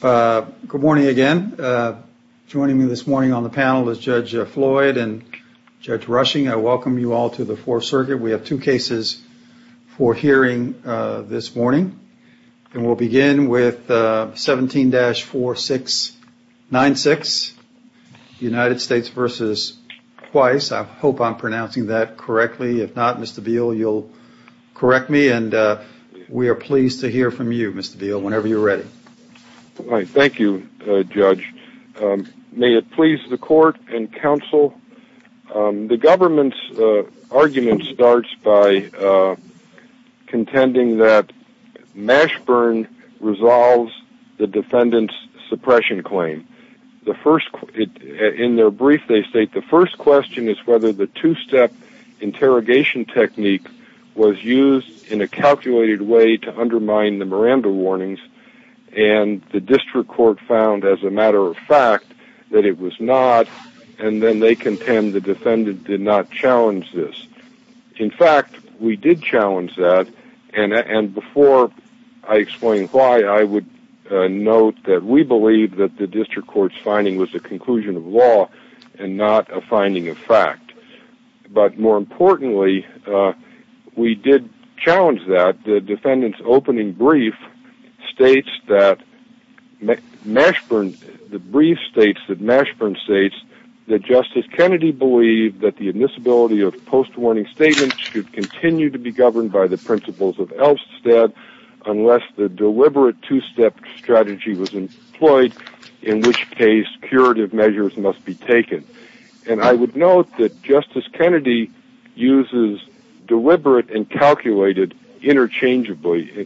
Good morning again. Joining me this morning on the panel is Judge Floyd and Judge Rushing. I welcome you all to the Fourth Circuit. We have two cases for hearing this morning, and we'll begin with 17-4696, United States v. Khweis. I hope I'm pronouncing that correctly. If not, Mr. Beal, you'll correct me, and we are pleased to hear from you, Mr. Beal, whenever you're ready. Thank you, Judge. May it please the Court and counsel, the government's argument starts by contending that Mashburn resolves the defendant's suppression claim. In their brief, they state the first question is whether the two-step interrogation technique was used in a calculated way to undermine the Miranda warnings, and the district court found, as a matter of fact, that it was not, and then they contend the defendant did not challenge this. In fact, we did challenge that, and before I explain why, I would note that we believe that the district court's finding was a conclusion of law and not a finding of fact. But more than that, the defendant's opening brief states that Mashburn, the brief states that Mashburn states that Justice Kennedy believed that the admissibility of post-warning statements should continue to be governed by the principles of Elfstead unless the deliberate two-step strategy was employed, in which case curative measures must be taken. And I would note that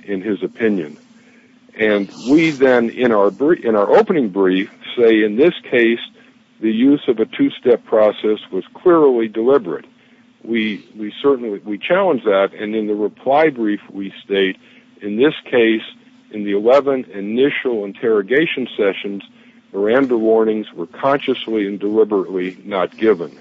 in his opinion. And we then, in our opening brief, say in this case, the use of a two-step process was clearly deliberate. We challenge that, and in the reply brief we state, in this case, in the 11 initial interrogation sessions, Miranda warnings were consciously and deliberately not given.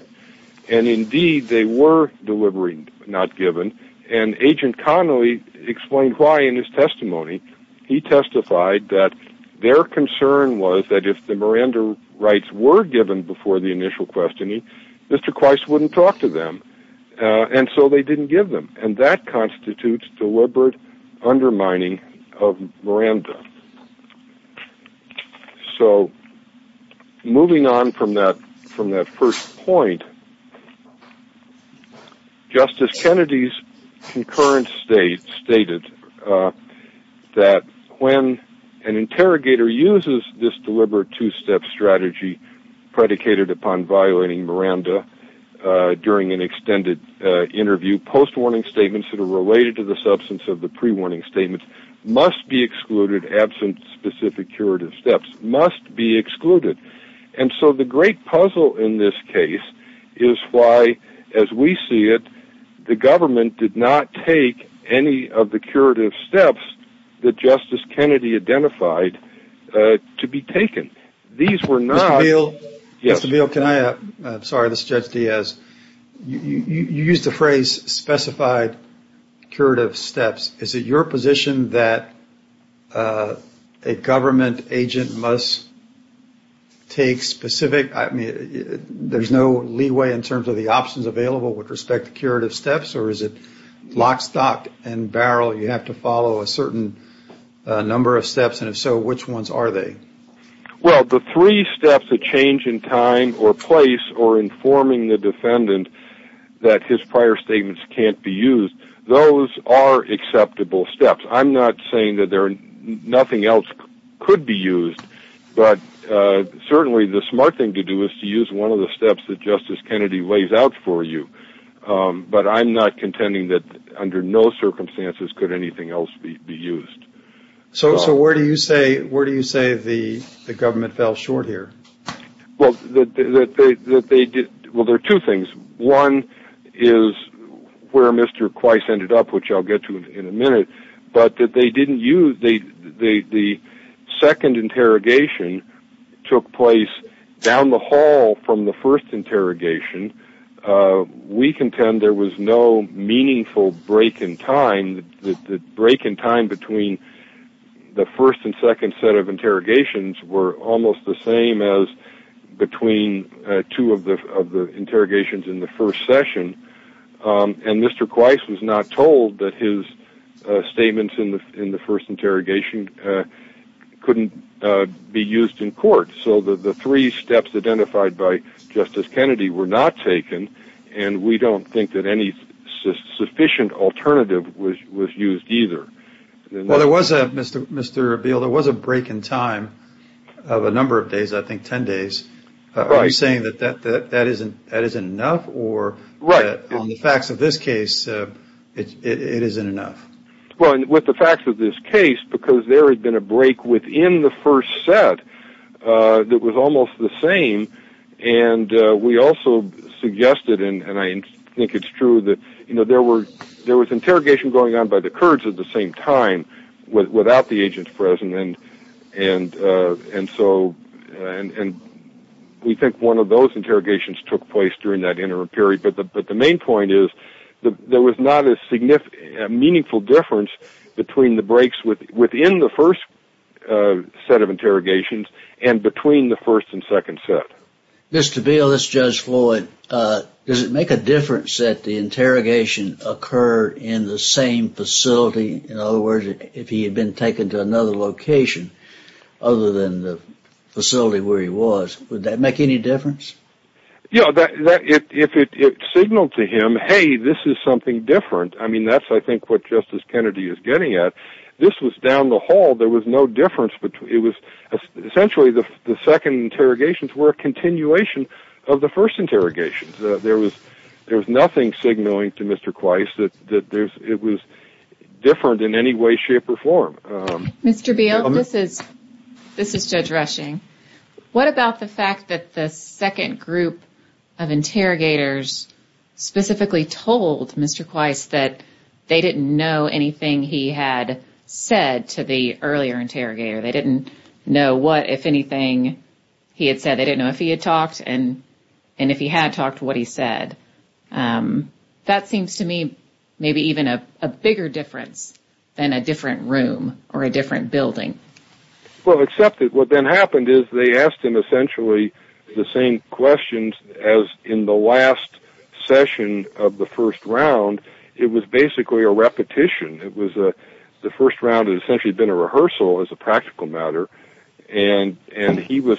And indeed, they were deliberately not given, and Agent Connolly explained why in his testimony. He testified that their concern was that if the Miranda rights were given before the initial questioning, Mr. Quyce wouldn't talk to them. And so they didn't give them, and that constitutes deliberate undermining of Miranda. So moving on from that first point, Justice Kennedy's concurrent state, the fact that stated that when an interrogator uses this deliberate two-step strategy predicated upon violating Miranda during an extended interview, post-warning statements that are related to the substance of the pre-warning statements must be excluded, absent specific curative steps, must be excluded. And so the great puzzle in this case is why, as we see it, the government did not take any of the curative steps that Justice Kennedy identified to be taken. These were not... Mr. Beal, can I... I'm sorry, this is Judge Diaz. You used the phrase specified curative steps. Is it your position that a government agent must take specific... there's no leeway in terms of the options available with respect to curative steps, or is it lock, stock, and barrel? You have to follow a certain number of steps, and if so, which ones are they? Well, the three steps, a change in time or place or informing the defendant that his prior statements can't be used, those are acceptable steps. I'm not saying that nothing else could be used, but certainly the smart thing to do is to use one of the steps that he lays out for you. But I'm not contending that under no circumstances could anything else be used. So where do you say the government fell short here? Well, there are two things. One is where Mr. Quyce ended up, which I'll get to in a minute, but that they didn't use... the second interrogation took place down the hall from the first interrogation and we contend there was no meaningful break in time. The break in time between the first and second set of interrogations were almost the same as between two of the interrogations in the first session, and Mr. Quyce was not told that his statements in the first interrogation couldn't be used in court. So the three steps identified by Justice Kennedy were not taken and we don't think that any sufficient alternative was used either. Well, there was a break in time of a number of days, I think ten days. Are you saying that that isn't enough or that on the facts of this case it isn't enough? Well, with the facts of this case, because there had been a break within the first set that was almost the same, and we also suggested, and I think it's true, that there was interrogation going on by the Kurds at the same time without the agents present, and we think one of those interrogations took place during that interim period, but the main point is there was not a meaningful difference between the breaks within the first set of interrogations and between the first and second set. Mr. Beal, this is Judge Floyd. Does it make a difference that the interrogation occurred in the same facility? In other words, if he had been taken to another location other than the facility where he was, would that make any difference? Yeah, if it signaled to him, hey, this is something different, I mean, that's I think what Justice Kennedy is getting at. This was down the hall. There was no difference. Essentially, the second interrogations were a continuation of the first interrogations. There was nothing signaling to Mr. Quyce that it was different in any way, shape, or form. Mr. Beal, this is Judge Rushing. What about the fact that the second group of interrogators specifically told Mr. Quyce that they didn't know anything he had said to the earlier interrogator? They didn't know what, if anything, he had said. They didn't know if he had talked and if he had talked, what he said. That seems to me maybe even a bigger difference than a different room or a different building. Well, except that what then happened is they asked him essentially the same questions as in the last session of the first round. It was basically a repetition. The first round had essentially been a rehearsal as a practical matter, and he was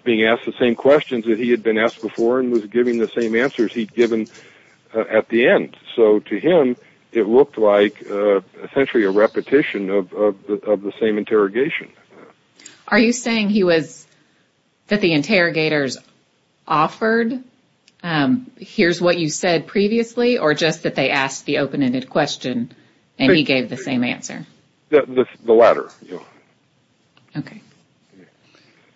being asked the same questions that he had been asked before and was given the same answers he'd given at the end. So to him, it looked like essentially a repetition of the same interrogation. Are you saying that the interrogators offered, here's what you said previously, or just that they asked the open-ended question and he gave the same answer? The latter.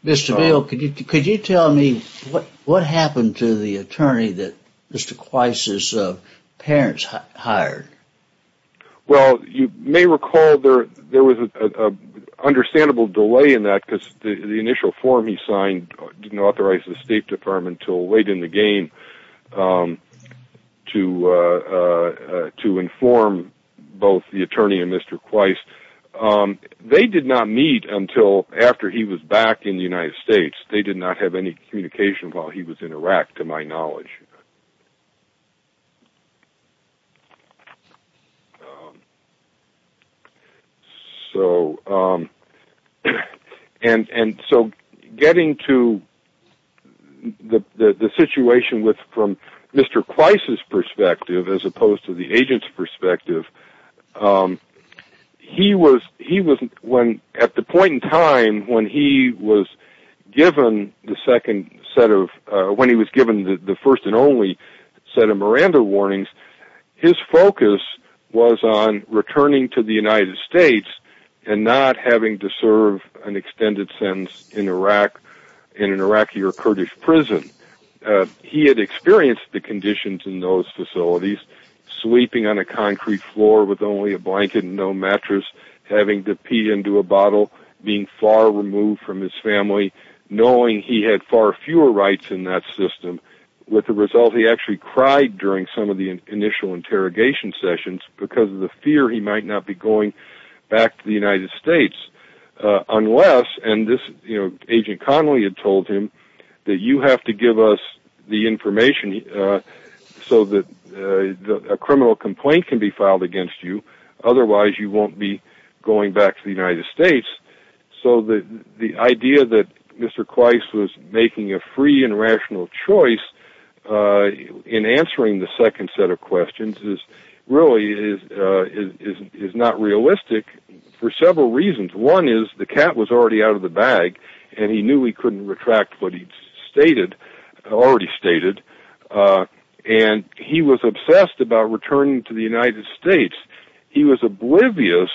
Mr. Beal, could you tell me what happened to the attorney that Mr. Quyce's parents hired? You may recall there was an understandable delay in that because the initial form he signed didn't authorize the State Department until late in the game to inform both the attorney and Mr. Quyce. They did not meet until after he was back in the United States. They did not have any communication while he was in Iraq, to my knowledge. And so getting to the situation from Mr. Quyce's perspective as opposed to the agent's perspective, at the point in time when he was given the first and only set of Miranda warnings, his focus was on returning to the United States and not having to serve an extended sentence in an Iraqi or Kurdish prison. He had experienced the conditions in those facilities, sweeping on a concrete floor with only a blanket and no mattress, having to pee into a bottle, being far removed from his family, knowing he had far fewer rights in that system. With the result, he actually cried during some of the initial interrogation sessions because of the fear he might not be going back to the United States unless, and Agent Connolly had told him, that you have to give us the information so that a criminal complaint can be filed against you, otherwise you won't be going back to the United States. So the idea that Mr. Quyce was making a free and rational choice in answering the second set of questions really is not realistic for several reasons. One is the cat was already out of the bag and he knew he couldn't retract what he'd already stated. He was obsessed about returning to the United States. He was oblivious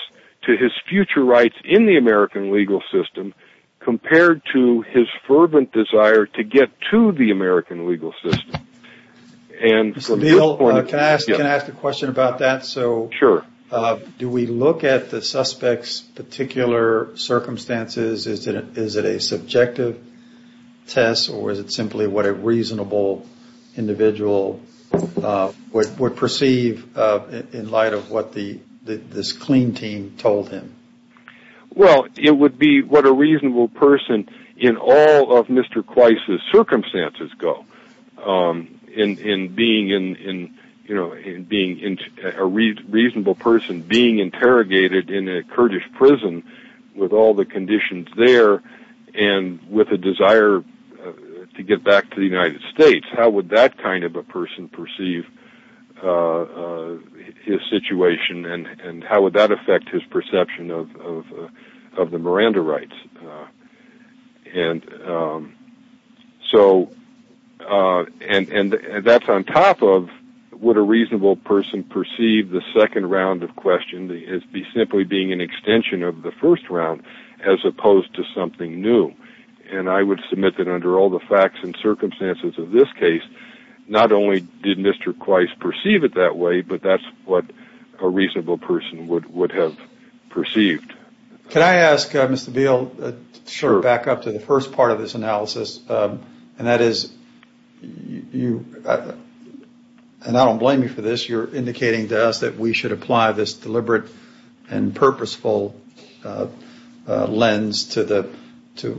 to his future rights in the American legal system compared to his fervent desire to get to the American legal system. Mr. Beale, can I ask a question about that? Do we look at the suspect's particular circumstances? Is it a subjective test or is it simply what a reasonable individual would prefer? Well, it would be what a reasonable person in all of Mr. Quyce's circumstances go, in being a reasonable person being interrogated in a Kurdish prison with all the conditions there and with a desire to get back to the United States. How would that kind of a person perceive his situation and how would that affect his perception of the Miranda rights? That's on top of what a reasonable person perceives the second round of questions as simply being an extension of the first round as opposed to something new. I would submit that under all the facts and circumstances of this case, not only did Mr. Quyce perceive it that way, but that's what a reasonable person would have perceived. Can I ask, Mr. Beale, to back up to the first part of this analysis, and that is, and I don't blame you for this, you're indicating to us that we should apply this deliberate and purposeful lens to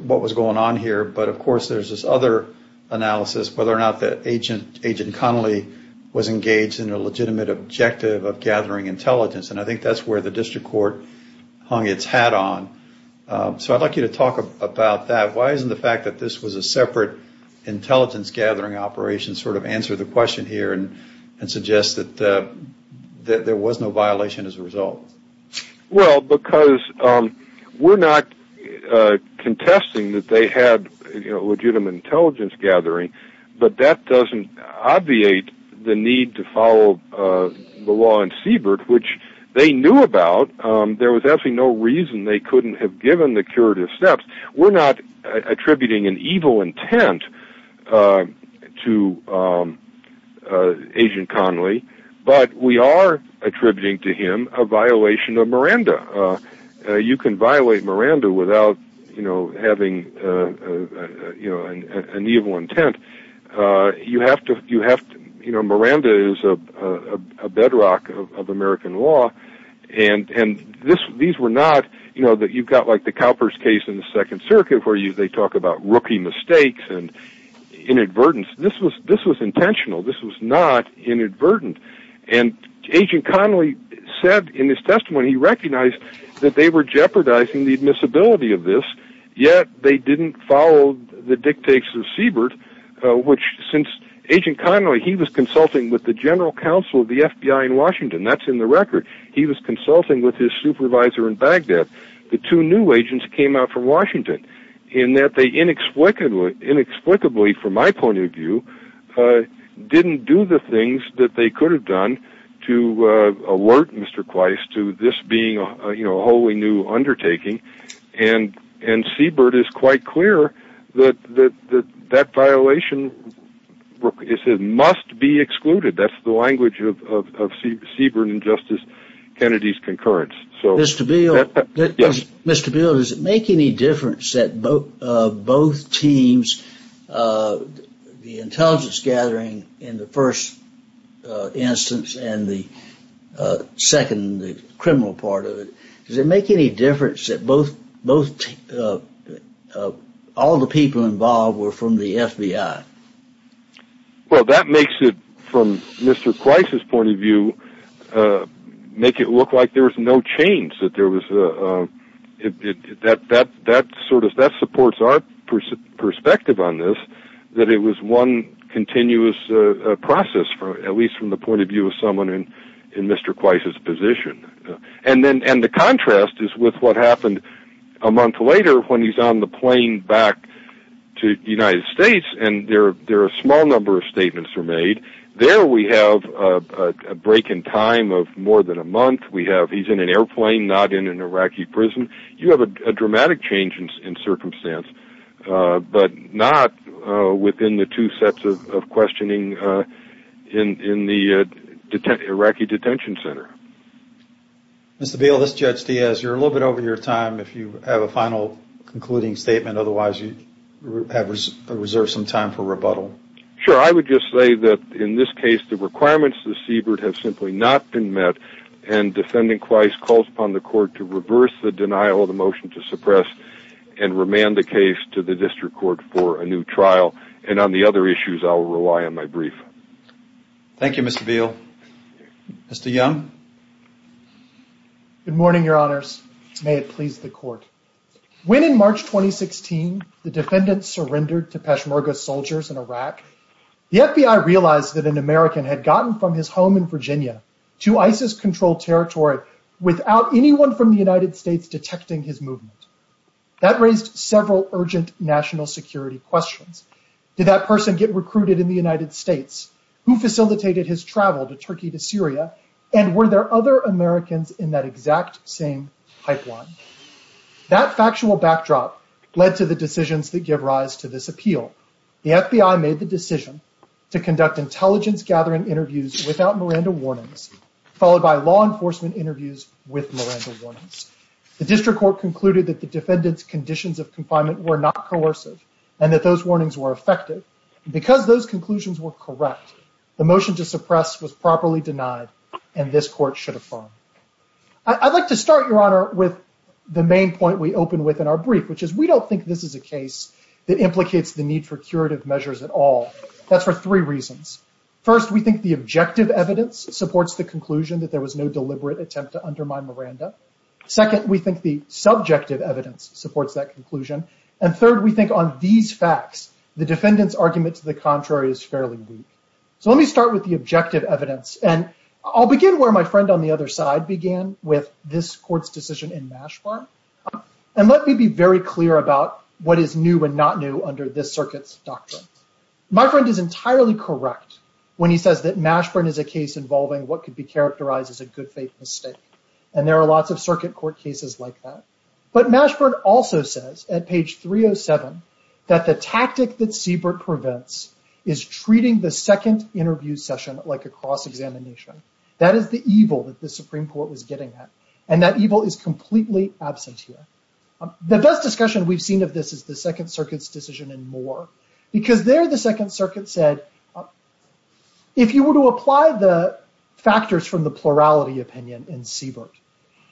what was going on here, but of course there's this other analysis, whether or not that Agent Connolly was engaged in a legitimate objective of gathering intelligence, and I think that's where the district court hung its hat on. So I'd like you to talk about that. Why isn't the fact that this was a separate intelligence gathering operation sort of answer the question here and suggest that there was no violation as a result? We're not contesting that they had legitimate intelligence gathering, but that doesn't obviate the need to follow the law in Siebert, which they knew about. There was absolutely no reason they couldn't have given the curative steps. We're not attributing an evil intent to the Agent Connolly, but we are attributing to him a violation of Miranda. You can violate Miranda without having an evil intent. Miranda is a bedrock of American law, and you've got like the Cowper's case in the Second Circuit where they talk about rookie mistakes and inadvertence. This was intentional. This was not inadvertent. Agent Connolly said in his testimony he recognized that they were jeopardizing the admissibility of this, yet they didn't follow the dictates of Siebert, which since Agent Connolly, he was consulting with the general counsel of the FBI in Washington. That's in the record. He was consulting with his supervisor in Baghdad. The two new agents came out from Washington, in that they inexplicably from my point of view, didn't do the things that they could have done to alert Mr. Kweiss to this being a wholly new undertaking. Siebert is quite clear that that violation must be excluded. That's the language of Siebert and Justice Kennedy's concurrence. Mr. Beale, does it make any difference that both teams, the intelligence gathering in the first instance and the criminal part of it, does it make any difference that all the people involved were from the FBI? That makes it, from Mr. Kweiss' point of view, make it look like there was no change. That supports our perspective on this, that it was one continuous process, at least from the point of view of someone in Mr. Kweiss' position. The contrast is with what happened a month later when he's on the plane back to the United States. There are a small number of statements that were made. There we have a break in time of more than a month. He's in an airplane, not in an Iraqi prison. You have a dramatic change in circumstance, but not within the two sets of questioning in the Iraqi detention center. Mr. Beale, this is Judge Diaz. You're a little bit over your time. If you have a final concluding statement, otherwise you have reserved some time for rebuttal. Sure. I would just say that in this case, the requirements of Siebert have simply not been met. Defending Kweiss calls upon the court to reverse the denial of the motion to suppress and remand the case to the district court for a new trial. On the other issues, I will rely on my brief. Thank you, Mr. Beale. Mr. Young? Good morning, Your Honors. May it please the court. When in March 2016, the defendant surrendered to Peshmerga soldiers in Iraq, the FBI realized that an American had gotten from his home in Virginia to ISIS-controlled territory without anyone from the United States detecting his movement. That raised several urgent national security questions. Did that person get recruited in the United States? Who facilitated his travel to Turkey, to Syria? And were there other Americans in that exact same pipeline? That factual backdrop led to the decisions that give rise to this appeal. The FBI made the decision to conduct intelligence-gathering interviews without Miranda warnings, followed by law enforcement interviews with Miranda warnings. The district court concluded that the defendant's conditions of confinement were not coercive and that those warnings were effective. Because those conclusions were correct, the motion to suppress was properly denied and this court should affirm. I'd like to start, Your Honor, with the main point we open with in our brief, which is we don't think this is a case that implicates the need for curative measures at all. That's for three reasons. First, we think the objective evidence supports the conclusion that there was no deliberate attempt to undermine Miranda. Second, we think the subjective evidence supports that conclusion. And third, we think on these facts, the defendant's argument to the contrary is fairly weak. So let me start with the objective evidence. And I'll begin where my friend on the other side began with this court's decision in Mashburn. And let me be very clear about what is new and not new under this circuit's doctrine. My friend is entirely correct when he says that Mashburn is a case involving what could be characterized as a good faith mistake. And there are lots of circuit court cases like that. But Mashburn also says at page 307 that the tactic that Siebert prevents is treating the second interview session like a cross-examination. That is the evil that the Supreme Court was getting at. And that evil is completely absent here. The best discussion we've seen of this is the Second Circuit's decision in Moore, because there the Second Circuit said, if you were to apply the factors from the plurality opinion in Siebert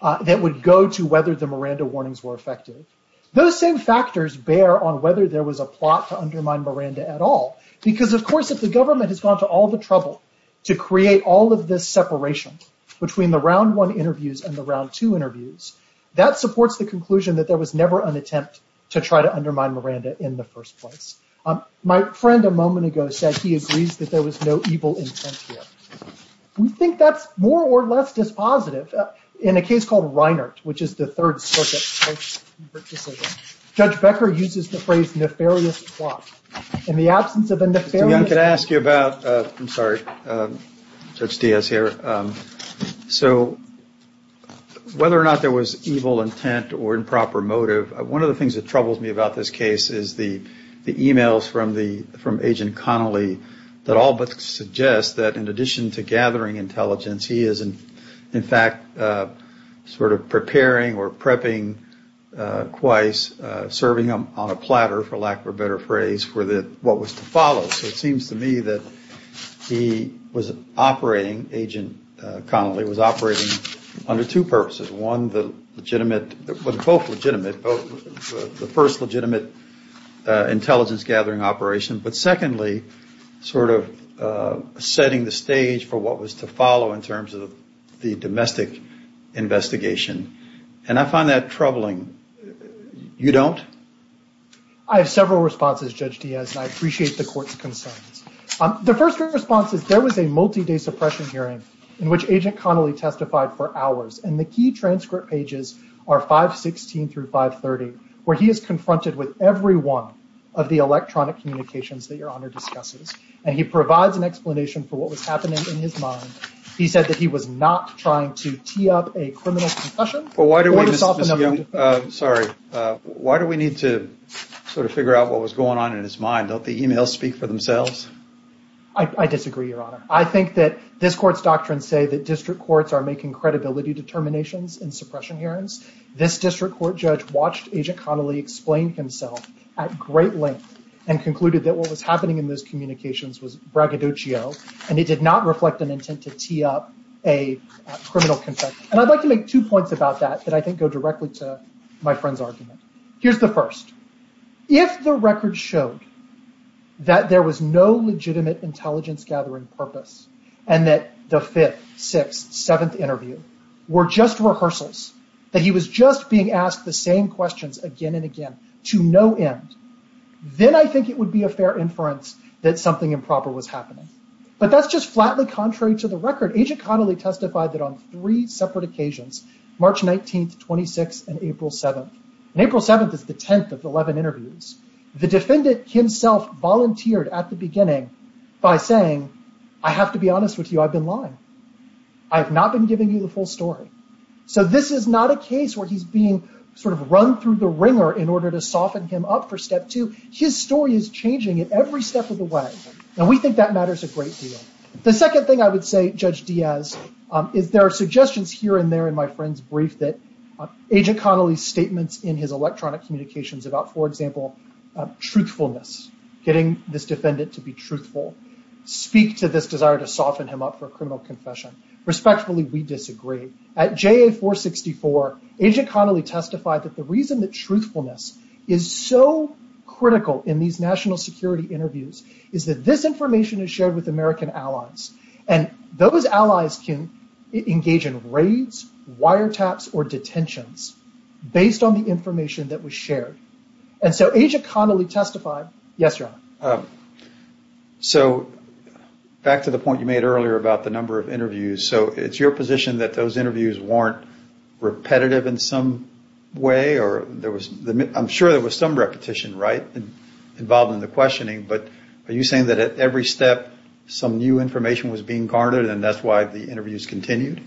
that would go to whether the Miranda warnings were effective, those same factors bear on whether there was a plot to undermine Miranda at all. Because, of course, if the government has gone to all the trouble to create all of this separation between the round one interviews and the round two interviews, that supports the conclusion that there was never an attempt to try to undermine Miranda in the first place. My friend a moment ago said he agrees that there was no evil intent here. We think that's more or less dispositive. In a case called Reinhart, which is the Third Circuit's decision, Judge Becker uses the phrase nefarious plot. In the absence of a nefarious plot... Mr. Young, could I ask you about... I'm sorry, Judge Diaz here. So whether or not there was evil intent or improper motive, one of the things that troubles me about this case is the emails from Agent Connolly that all but suggest that in addition to gathering intelligence, he is in fact sort of preparing or prepping, serving on a platter, for lack of a better phrase, for what was to follow. So it seems to me that he was operating, Agent Connolly, was operating under two purposes. One, both legitimate, the first legitimate intelligence gathering operation. But secondly, sort of setting the stage for what was to follow in terms of the domestic investigation. And I find that troubling. You don't? I have several responses, Judge Diaz, and I appreciate the Court's concerns. The first response is there was a multi-day suppression hearing in which Agent Connolly testified for hours. And the key transcript pages are 516 through 530, where he is confronted with every one of the electronic communications that Your Honor discusses. And he provides an explanation for what was happening in his mind. He said that he was not trying to tee up a criminal concussion. Why do we need to sort of figure out what was going on in his mind? Don't the emails speak for themselves? I disagree, Your Honor. I think that this Court's doctrines say that district courts are making credibility determinations in suppression hearings. This district court judge watched Agent Connolly explain himself at great length and concluded that what was happening in those communications was braggadocio, and it did not reflect an intent to tee up a criminal concussion. And I'd like to make two points about that that I think go directly to my friend's argument. Here's the first. If the record showed that there was no legitimate intelligence gathering purpose and that the fifth, sixth, seventh interview were just rehearsals, that he was just being asked the same questions again and again to no end, then I think it would be a fair inference that something improper was happening. But that's just flatly contrary to the record. Agent Connolly testified that on three separate occasions, March 19th, 26th, and April 7th, and April 7th is the 10th of the 11 interviews, the defendant himself volunteered at the beginning by saying, I have to be honest with you, I've been lying. I have not been giving you the full story. So this is not a case where he's being sort of run through the ringer in order to soften him up for step two. His story is changing at every step of the way, and we think that matters a great deal. The second thing I would say, Judge Diaz, is there are suggestions here and there in my friend's brief that Agent Connolly's statements in his electronic communications about, for example, truthfulness, getting this defendant to be truthful, speak to this desire to soften him up for a criminal confession. Respectfully, we disagree. At JA 464, Agent Connolly testified that the reason that truthfulness is so critical in these national security interviews is that this information is shared with American allies, and those allies can engage in raids, wire raids, and so on. So back to the point you made earlier about the number of interviews, so it's your position that those interviews weren't repetitive in some way? I'm sure there was some repetition involved in the questioning, but are you saying that at every step some new information was being garnered and that's why the interviews continued?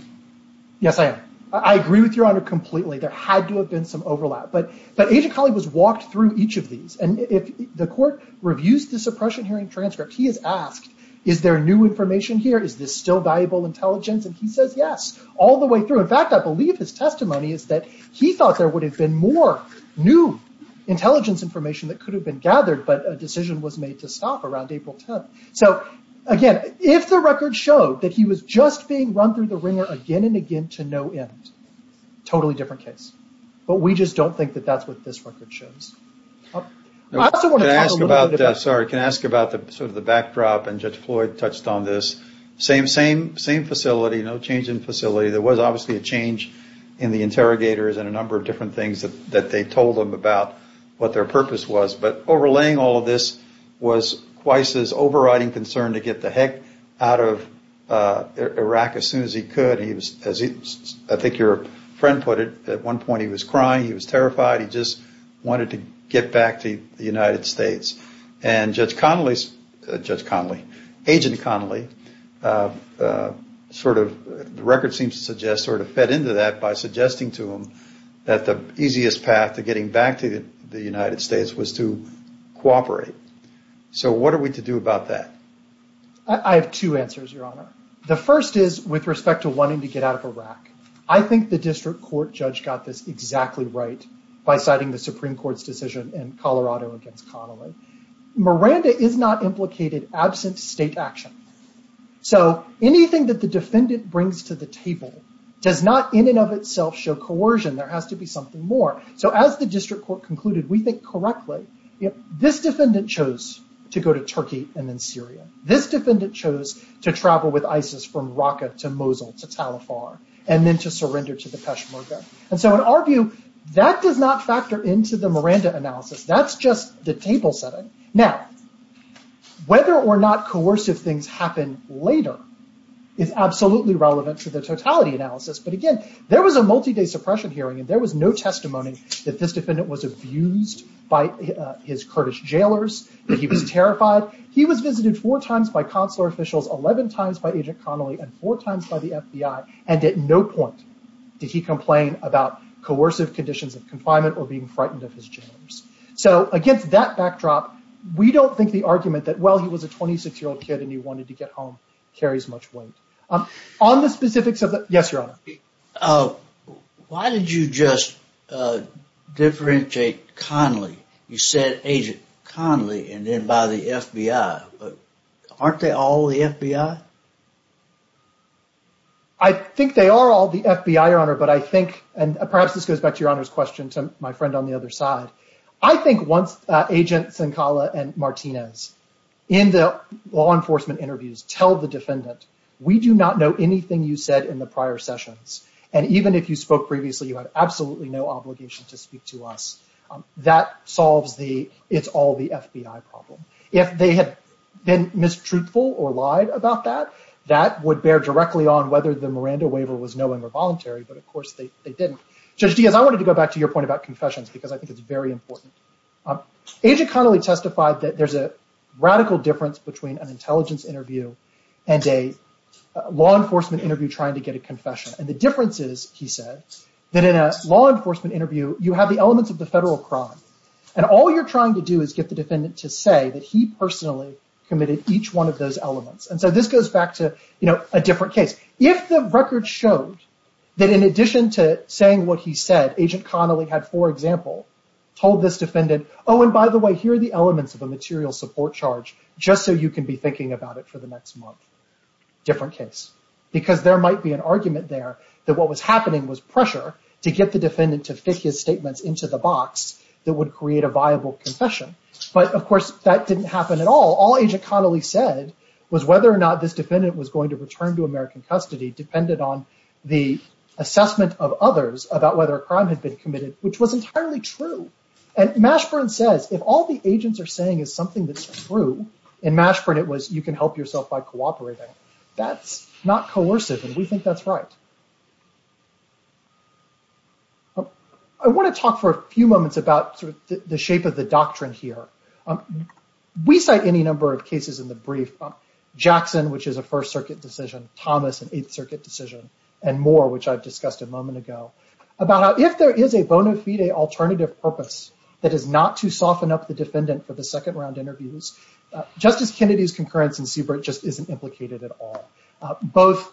Yes, I am. I agree with Your Honor completely. There had to have been some overlap, but Agent Connolly was walked through each of these, and if the court reviews the suppression hearing transcript, he is asked, is there new information here? Is this still valuable intelligence? And he says, yes, all the way through. In fact, I believe his testimony is that he thought there would have been more new intelligence information that could have been gathered, but a decision was made to stop around April 10th. So again, if the record showed that he was just being run through the ringer again and again to no end, totally different case. But we just don't think that that's what this record shows. Can I ask about the backdrop, and Judge Floyd touched on this, same facility, no change in facility. There was obviously a change in the interrogators and a number of different things that they told them about what their purpose was, but overlaying all of this was overriding concern to get the heck out of Iraq as soon as he could. As I think your friend put it, at one point he was crying, he was terrified, he just wanted to get back to the United States. And Agent Connolly, the record seems to suggest, sort of fed into that by suggesting to him that the easiest path to getting back to the United States was to cooperate. So what are we to do about that? I have two answers, Your Honor. The first is with respect to wanting to get out of Iraq. I think the district court judge got this exactly right by citing the Supreme Court's decision in Colorado against Connolly. Miranda is not implicated absent state action. So anything that the defendant brings to the table does not in and of itself show coercion. There has to be something more. So as the district court concluded, we think correctly, this defendant chose to go to Turkey and then Syria. This defendant chose to travel with ISIS from Raqqa to Mosul to Tal Afar and then to surrender to the Peshmerga. So in our view, that does not factor into the Miranda analysis. That's just the table setting. Now, whether or not coercive things happen later is absolutely relevant to the totality analysis. But again, there was a multi-day suppression hearing, and there was no testimony that this defendant was abused by his Kurdish jailers, that he was terrified. He was visited four times by consular officials, 11 times by Agent Connolly, and four times by the FBI. And at no point did he complain about coercive conditions of confinement or being frightened of his jailers. So against that backdrop, we don't think the argument that, well, he was a 26-year-old kid and he wanted to get home, carries much weight. On the specifics of the... Yes, Your Honor. Why did you just differentiate Connolly? You said Agent Connolly and then by the FBI. Aren't they all the FBI? I think they are all the FBI, Your Honor. But I think, and perhaps this goes back to Your Honor's question to my friend on the other side. I think once Agent Zinkala and Martinez in the law enforcement interviews tell the defendant, we do not know anything you said in the prior sessions. And even if you spoke previously, you have absolutely no obligation to speak to us. That solves the, it's all the FBI problem. If they had been mistruthful or lied about that, that would bear directly on whether the Miranda waiver was knowing or voluntary, but of course they didn't. Judge Diaz, I wanted to go back to your point about confessions, because I think it's very important. Agent Connolly testified that there's a radical difference between an intelligence interview and a law enforcement interview trying to get a confession. And the difference is, he said, that in a law enforcement interview, you have the elements of the federal crime. And all you're trying to do is get the defendant to say that he personally committed each one of those elements. And so this goes back to, you know, a different case. If the record showed that in addition to saying what he said, Agent Connolly had, for example, told this defendant, oh, and by the way, here are the elements of a material support charge, just so you can be thinking about it for the next month. Different case. Because there might be an argument there that what was happening was pressure to get the defendant to fit his statements into the box that would create a viable confession. But of course, that didn't happen at all. All Agent Connolly said was whether or not this defendant was going to return to American custody depended on the assessment of others about whether a crime had been committed, which was entirely true. And Mashburn says, if all the agents are saying is something that's true, in Mashburn it was, you can help yourself by cooperating. That's not coercive, and we think that's right. I want to talk for a few moments about the shape of the doctrine here. We cite any number of cases in the brief, Jackson, which is a First Circuit decision, Thomas, an Eighth Circuit decision, and Moore, which I've discussed a moment ago, about how if there is a bona fide alternative purpose that is not to soften up the defendant for the second round interviews, Justice Kennedy's concurrence in Siebert just isn't implicated at all. Both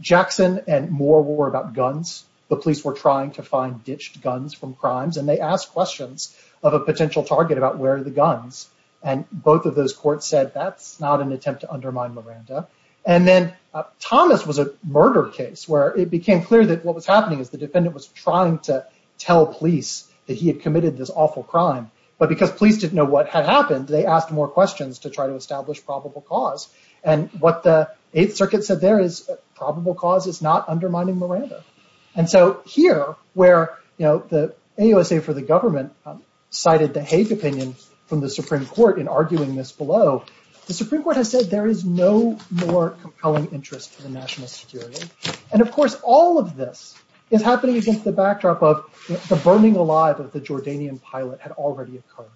Jackson and Moore were about guns. The police were trying to find ditched guns from crimes, and they asked questions of a potential target about where are the guns. And both of those courts said that's not an attempt to undermine Miranda. And then Thomas was a murder case where it became clear that what was happening is the defendant was trying to tell police that he had committed this awful crime, but because police didn't know what had happened, they asked more questions to try to establish probable cause. And what the Eighth Circuit said there is probable cause is not undermining Miranda. And so here, where the AUSA for the government cited the Hague opinion from the Supreme Court in arguing this below, the Supreme Court has said there is no compelling interest for the national security. And of course, all of this is happening against the backdrop of the burning alive of the Jordanian pilot had already occurred.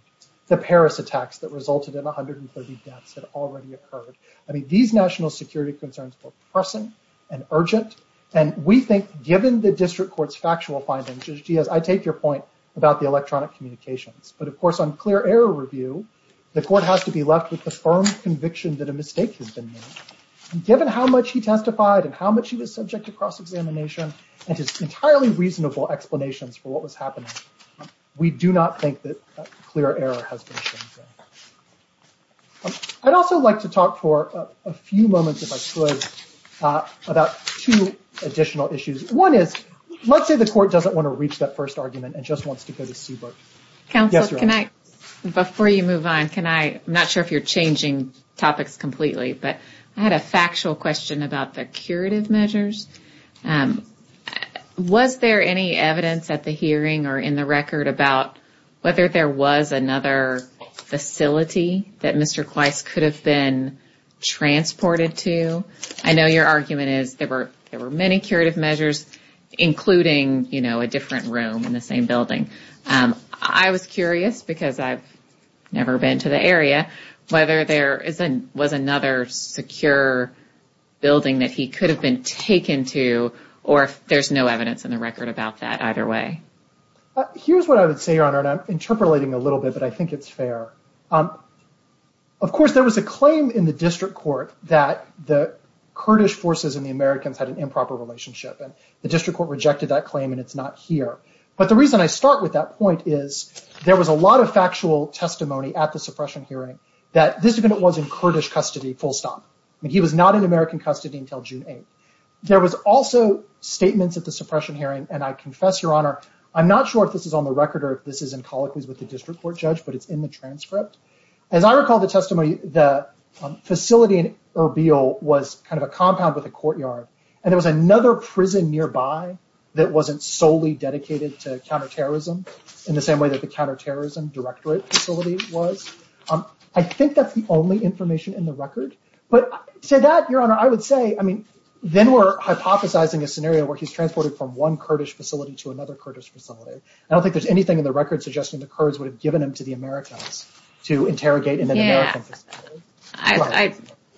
The Paris attacks that resulted in 130 deaths had already occurred. I mean, these national security concerns were pressing and urgent. And we think given the district court's factual findings, Judge Diaz, I take your point about the electronic communications. But of course, on clear error review, the court has to be left with the firm conviction that a mistake has been made. Given how much he testified and how much he was subject to cross-examination, and just entirely reasonable explanations for what was happening, we do not think that clear error has been shown. I'd also like to talk for a few moments, if I could, about two additional issues. One is, let's say the court doesn't want to reach that first argument and just wants to go to Seabrook. Counsel, can I, before you move on, can I, I'm not sure if you're changing topics completely, but I had a factual question about the curative measures. Was there any evidence at the hearing or in the record about whether there was another facility that Mr. Kweiss could have been transported to? I know your argument is there were many curative measures, including, you know, a different room in the same building. I was wondering whether there was another secure building that he could have been taken to, or if there's no evidence in the record about that either way. Here's what I would say, Your Honor, and I'm interpolating a little bit, but I think it's fair. Of course, there was a claim in the district court that the Kurdish forces and the Americans had an improper relationship, and the district court rejected that claim, and it's not here. But the reason I start with that point is there was a lot of factual testimony at the suppression hearing that this defendant was in Kurdish custody full stop. I mean, he was not in American custody until June 8th. There was also statements at the suppression hearing, and I confess, Your Honor, I'm not sure if this is on the record or if this is in colloquies with the district court judge, but it's in the transcript. As I recall the testimony, the facility in Erbil was kind of a compound with a courtyard, and there was another prison nearby that wasn't solely dedicated to the Kurds. I think that's the only information in the record, but to that, Your Honor, I would say, I mean, then we're hypothesizing a scenario where he's transported from one Kurdish facility to another Kurdish facility. I don't think there's anything in the record suggesting the Kurds would have given him to the Americans to interrogate in an American facility.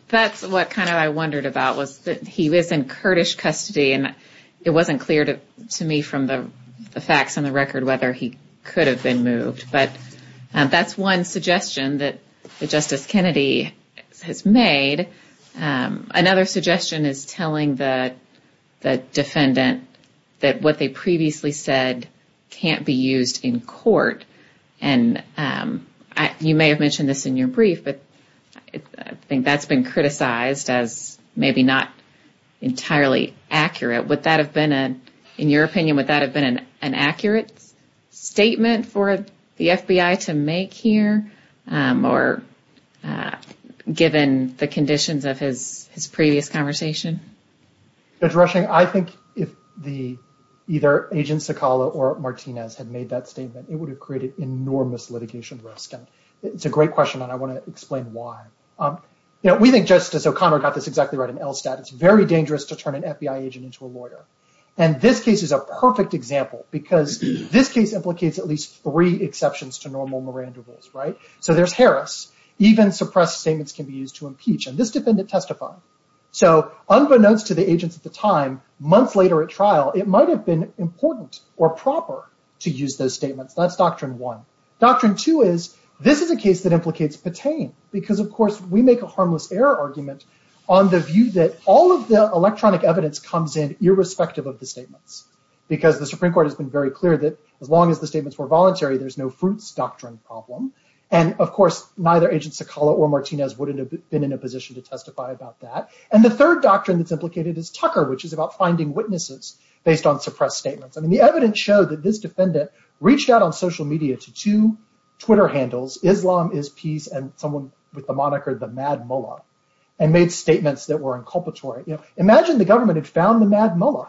That's what kind of I wondered about was that he was in Kurdish custody, and it wasn't clear to me from the facts on the record whether he could have been moved, but that's one suggestion that Justice Kennedy has made. Another suggestion is telling the defendant that what they previously said can't be used in court, and you may have mentioned this in your brief, but I think that's been criticized as maybe not entirely accurate. Would that have been, in your opinion, would that have been more accurate given the conditions of his previous conversation? Judge Rushing, I think if either Agent Sokala or Martinez had made that statement, it would have created enormous litigation risk, and it's a great question, and I want to explain why. You know, we think Justice O'Connor got this exactly right in Elstat. It's very dangerous to turn an FBI agent into a lawyer, and this case is a perfect example because this case implicates at right? So there's Harris. Even suppressed statements can be used to impeach, and this defendant testified. So unbeknownst to the agents at the time, months later at trial, it might have been important or proper to use those statements. That's doctrine one. Doctrine two is this is a case that implicates Patain because, of course, we make a harmless error argument on the view that all of the electronic evidence comes in irrespective of the statements because the Supreme Court has been very clear that as long as the statements were in irrespective of the evidence, there was no harm. So this is a doctrine problem, and, of course, neither Agent Sokala or Martinez would have been in a position to testify about that. And the third doctrine that's implicated is Tucker, which is about finding witnesses based on suppressed statements. I mean, the evidence showed that this defendant reached out on social media to two Twitter handles, Islam is Peace and someone with the moniker, the Mad Mullah, and made statements that were inculpatory. Imagine the government had found the Mad Mullah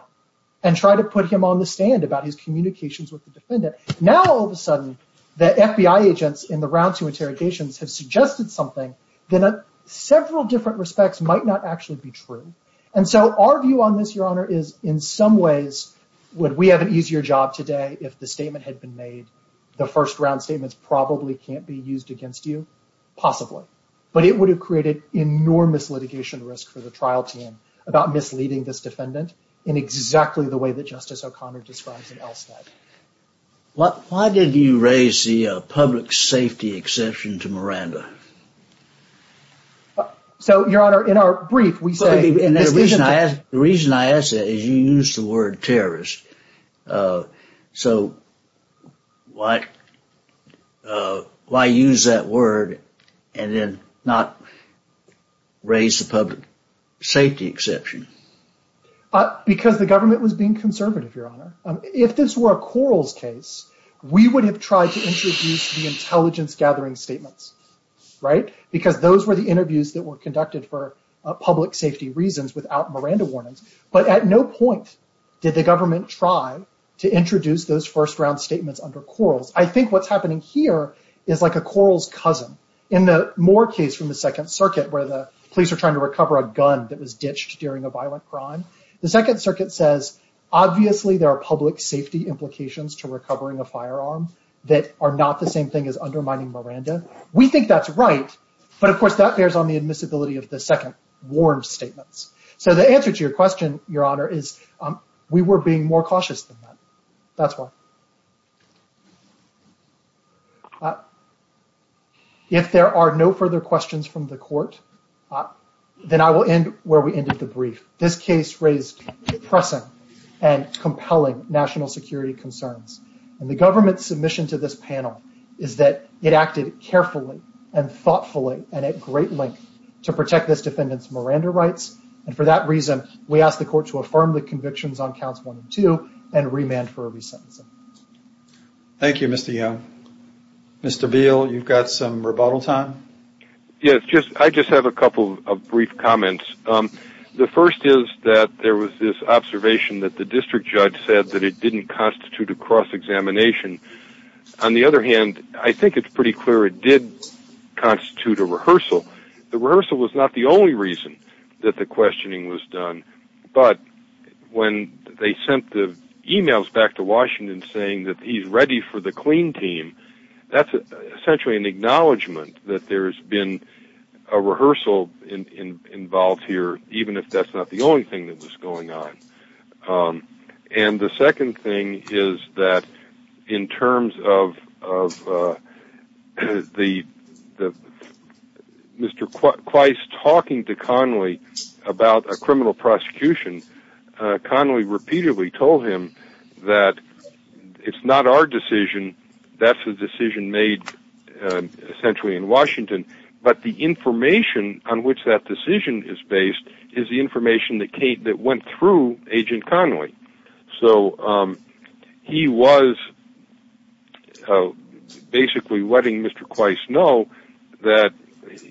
and tried to put him on the stand about his communications with the defendant. Now, all of a sudden, the FBI agents in the round two interrogations have suggested something that in several different respects might not actually be true. And so our view on this, Your Honor, is in some ways, would we have an easier job today if the statement had been made, the first round statements probably can't be used against you? Possibly. But it would have created enormous litigation risk for the trial team about misleading this defendant in exactly the way that Justice O'Connor describes in Elstad. Why did you raise the public safety exception to Miranda? So, Your Honor, in our brief, we say... The reason I ask that is you use the word terrorist. So, why use that word and then not raise the public safety exception? Because the government was being conservative, Your Honor. If this were a Quarles case, we would have tried to introduce the intelligence gathering statements, right? Because those were the interviews that were conducted for public safety reasons without Miranda warnings. But at no point did the government try to introduce those first round statements under Quarles. I think what's happening here is like a Quarles cousin. In the Moore case from the Second Circuit, where the police are trying to recover a gun that was ditched during a violent crime, the Second Circuit says, obviously, there are public safety implications to recovering a firearm that are not the same thing as undermining Miranda. We think that's of the second warrant statements. So, the answer to your question, Your Honor, is we were being more cautious than that. That's why. If there are no further questions from the court, then I will end where we ended the brief. This case raised depressing and compelling national security concerns. And the government's submission to this panel is that it acted carefully and thoughtfully and at great length to protect this defendant's Miranda rights. And for that reason, we ask the court to affirm the convictions on counts one and two and remand for a resentencing. Thank you, Mr. Young. Mr. Beal, you've got some rebuttal time. Yes, I just have a couple of brief comments. The first is that there was this observation that the district judge said that it didn't constitute a cross-examination. On the other hand, I think it's pretty clear it did constitute a rehearsal. The rehearsal was not the only reason that the questioning was done. But when they sent the emails back to Washington saying that he's ready for the clean team, that's essentially an acknowledgement that there's been a rehearsal involved here, even if that's not the only thing that was going on. And the second thing is that in terms of Mr. Quyce talking to Connolly about a criminal prosecution, Connolly repeatedly told him that it's not our decision. That's a decision made essentially in Washington. But the information on which that decision is based is the information that went through Agent Connolly. So he was basically letting Mr. Quyce know that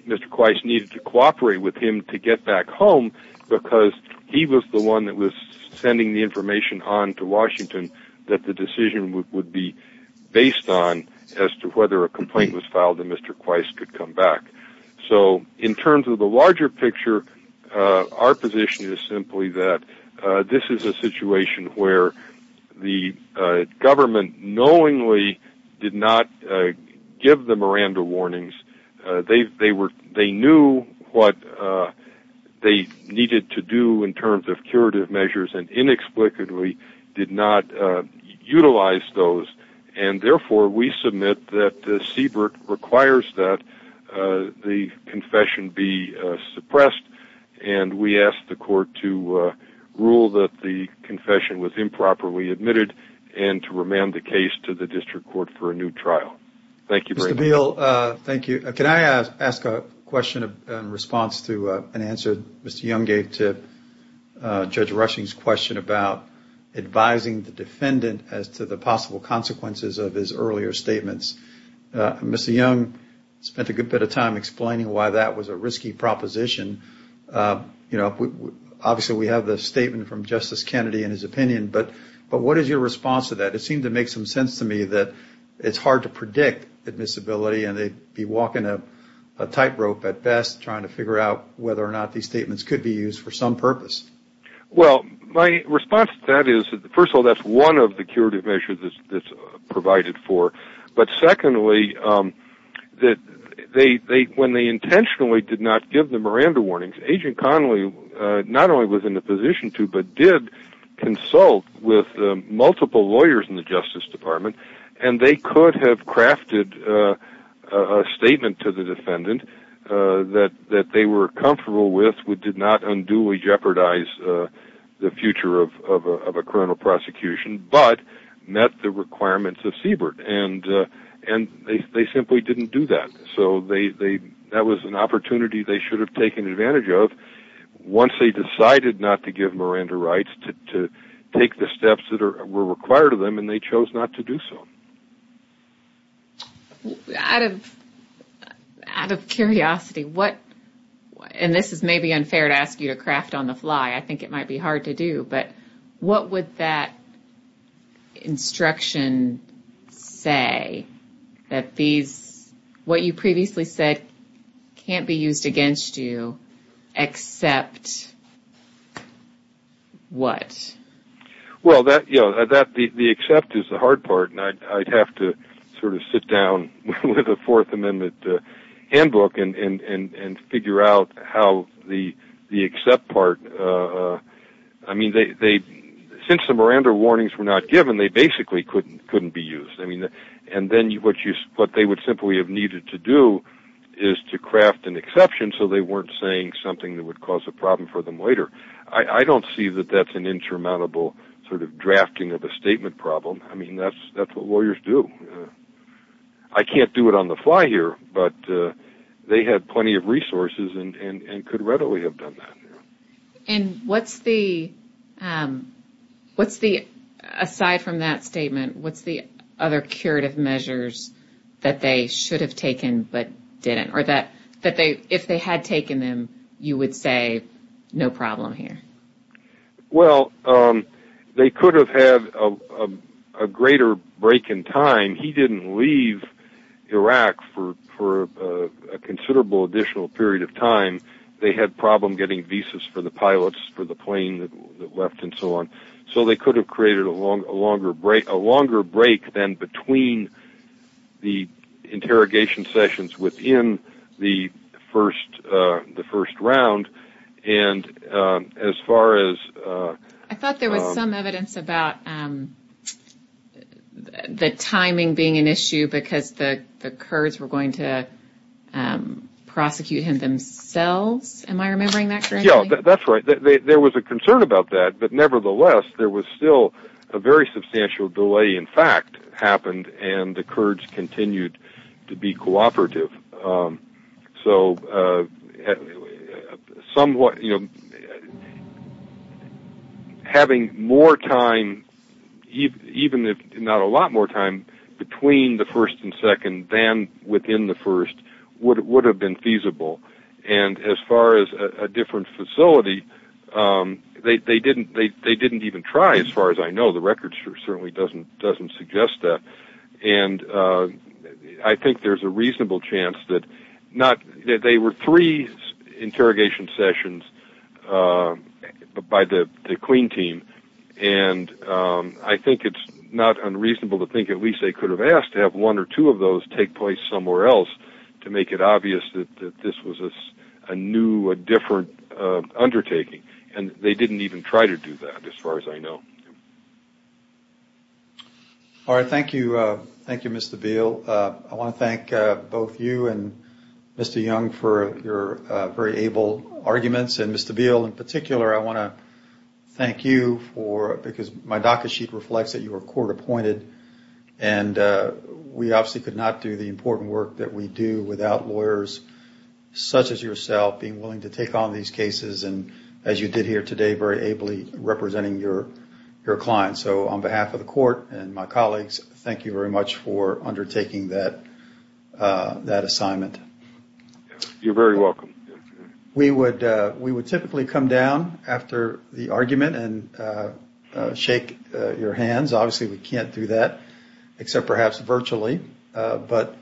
Mr. Quyce needed to cooperate with him to get back home because he was the one that was sending the information on to Washington that the decision would be based on as to whether a complaint was filed and Mr. Quyce could come back. So in terms of the larger picture, our position is simply that this is a situation where the government knowingly did not give the Miranda warnings. They knew what they needed to do in terms of curative measures and inexplicably did not utilize those. And therefore, we submit that the CBRT requires that the confession be suppressed and we ask the court to rule that the confession was improperly admitted and to remand the case to the district court for a new trial. Thank you. Mr. Beal, thank you. Can I ask a question in response to an answer Mr. Young gave to Judge Rushing's question about advising the defendant as to the possible consequences of his earlier statements? Mr. Young spent a good bit of time explaining why that was a risky proposition. Obviously, we have the statement from Justice Kennedy and his opinion, but what is your response to that? It seemed to make some sense to me that it's hard to predict admissibility and they'd be walking a tightrope at best trying to figure out whether or not these statements could be used for some purpose. Well, my response to that is, first of all, that's one of the curative measures that's provided for. But secondly, that when they intentionally did not give the Miranda warnings, Agent Connolly not only was in a position to, but did consult with multiple lawyers in the Justice Department, and they could have crafted a statement to the defendant that they were comfortable with, which did not unduly jeopardize the future of a criminal prosecution, but met the requirements of CBRT. And they simply didn't do that. So that was an opportunity they should have taken advantage of once they decided not to give Miranda rights to take the steps that were required of them, and they chose not to do so. Out of curiosity, and this is maybe unfair to ask you to craft on the fly, I think it might be hard to do, but what would that instruction say that what you previously said can't be used against you except what? Well, the except is the hard part, and I'd have to sort of sit down with a Fourth Amendment handbook and figure out how the except part... I mean, since the Miranda warnings were not given, they basically couldn't be used. And then what they would simply have needed to do is to craft an exception so they weren't saying something that would cause a problem for them later. I don't see that that's an insurmountable sort of drafting of a statement problem. I mean, that's what lawyers do. I can't do it on the fly here, but they had plenty of resources and could readily have done that. And what's the, aside from that statement, what's the other curative measures that they should have taken but didn't? Or that if they had taken them, you would say no problem here? Well, they could have had a greater break in time. He didn't leave Iraq for a considerable additional period of time. They had a problem getting visas for the pilots for the plane that left and so on. So they could have created a longer break than between the interrogation sessions within the first round. And as far as... I thought there was some evidence about the timing being an issue because the Kurds were going to prosecute him themselves. Am I remembering that correctly? Yeah, that's right. There was a concern about that, but nevertheless, there was still a very substantial delay, in fact, happened and the Kurds continued to be cooperative. So having more time, even if not a lot more time, between the first and second than within the first would have been feasible. And as far as a different facility, they didn't even try as far as I know. The record certainly doesn't suggest that. And I think there's a reasonable chance that not... They were three interrogation sessions by the clean team. And I think it's not unreasonable to think at least they could have asked to have one or two of those take place somewhere else to make it obvious that this was a new, a different undertaking. And they didn't even try to do that as far as I know. All right. Thank you. Thank you, Mr. Beale. I want to thank both you and Mr. Young for your very able arguments. And Mr. Beale in particular, I want to thank you for... Because my docket sheet reflects that you were court appointed and we obviously could not do the important work that we do without lawyers such as yourself being willing to take on these cases and as you did here today, very ably representing your client. So on behalf of the court and my colleagues, thank you very much for undertaking that assignment. You're very welcome. We would typically come down after the argument and shake your hands. Obviously, we can't do that except perhaps virtually. But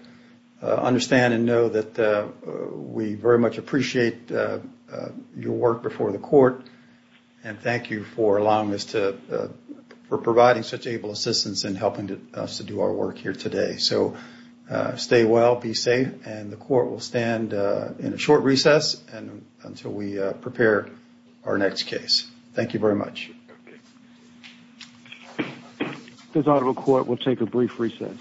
understand and know that we very much appreciate your work before the court. And thank you for allowing us to... For providing such able assistance in helping us to do our work here today. So stay well, be safe. And the court will stand in a short recess until we prepare our next case. Thank you very much. Okay. This audible court will take a brief recess.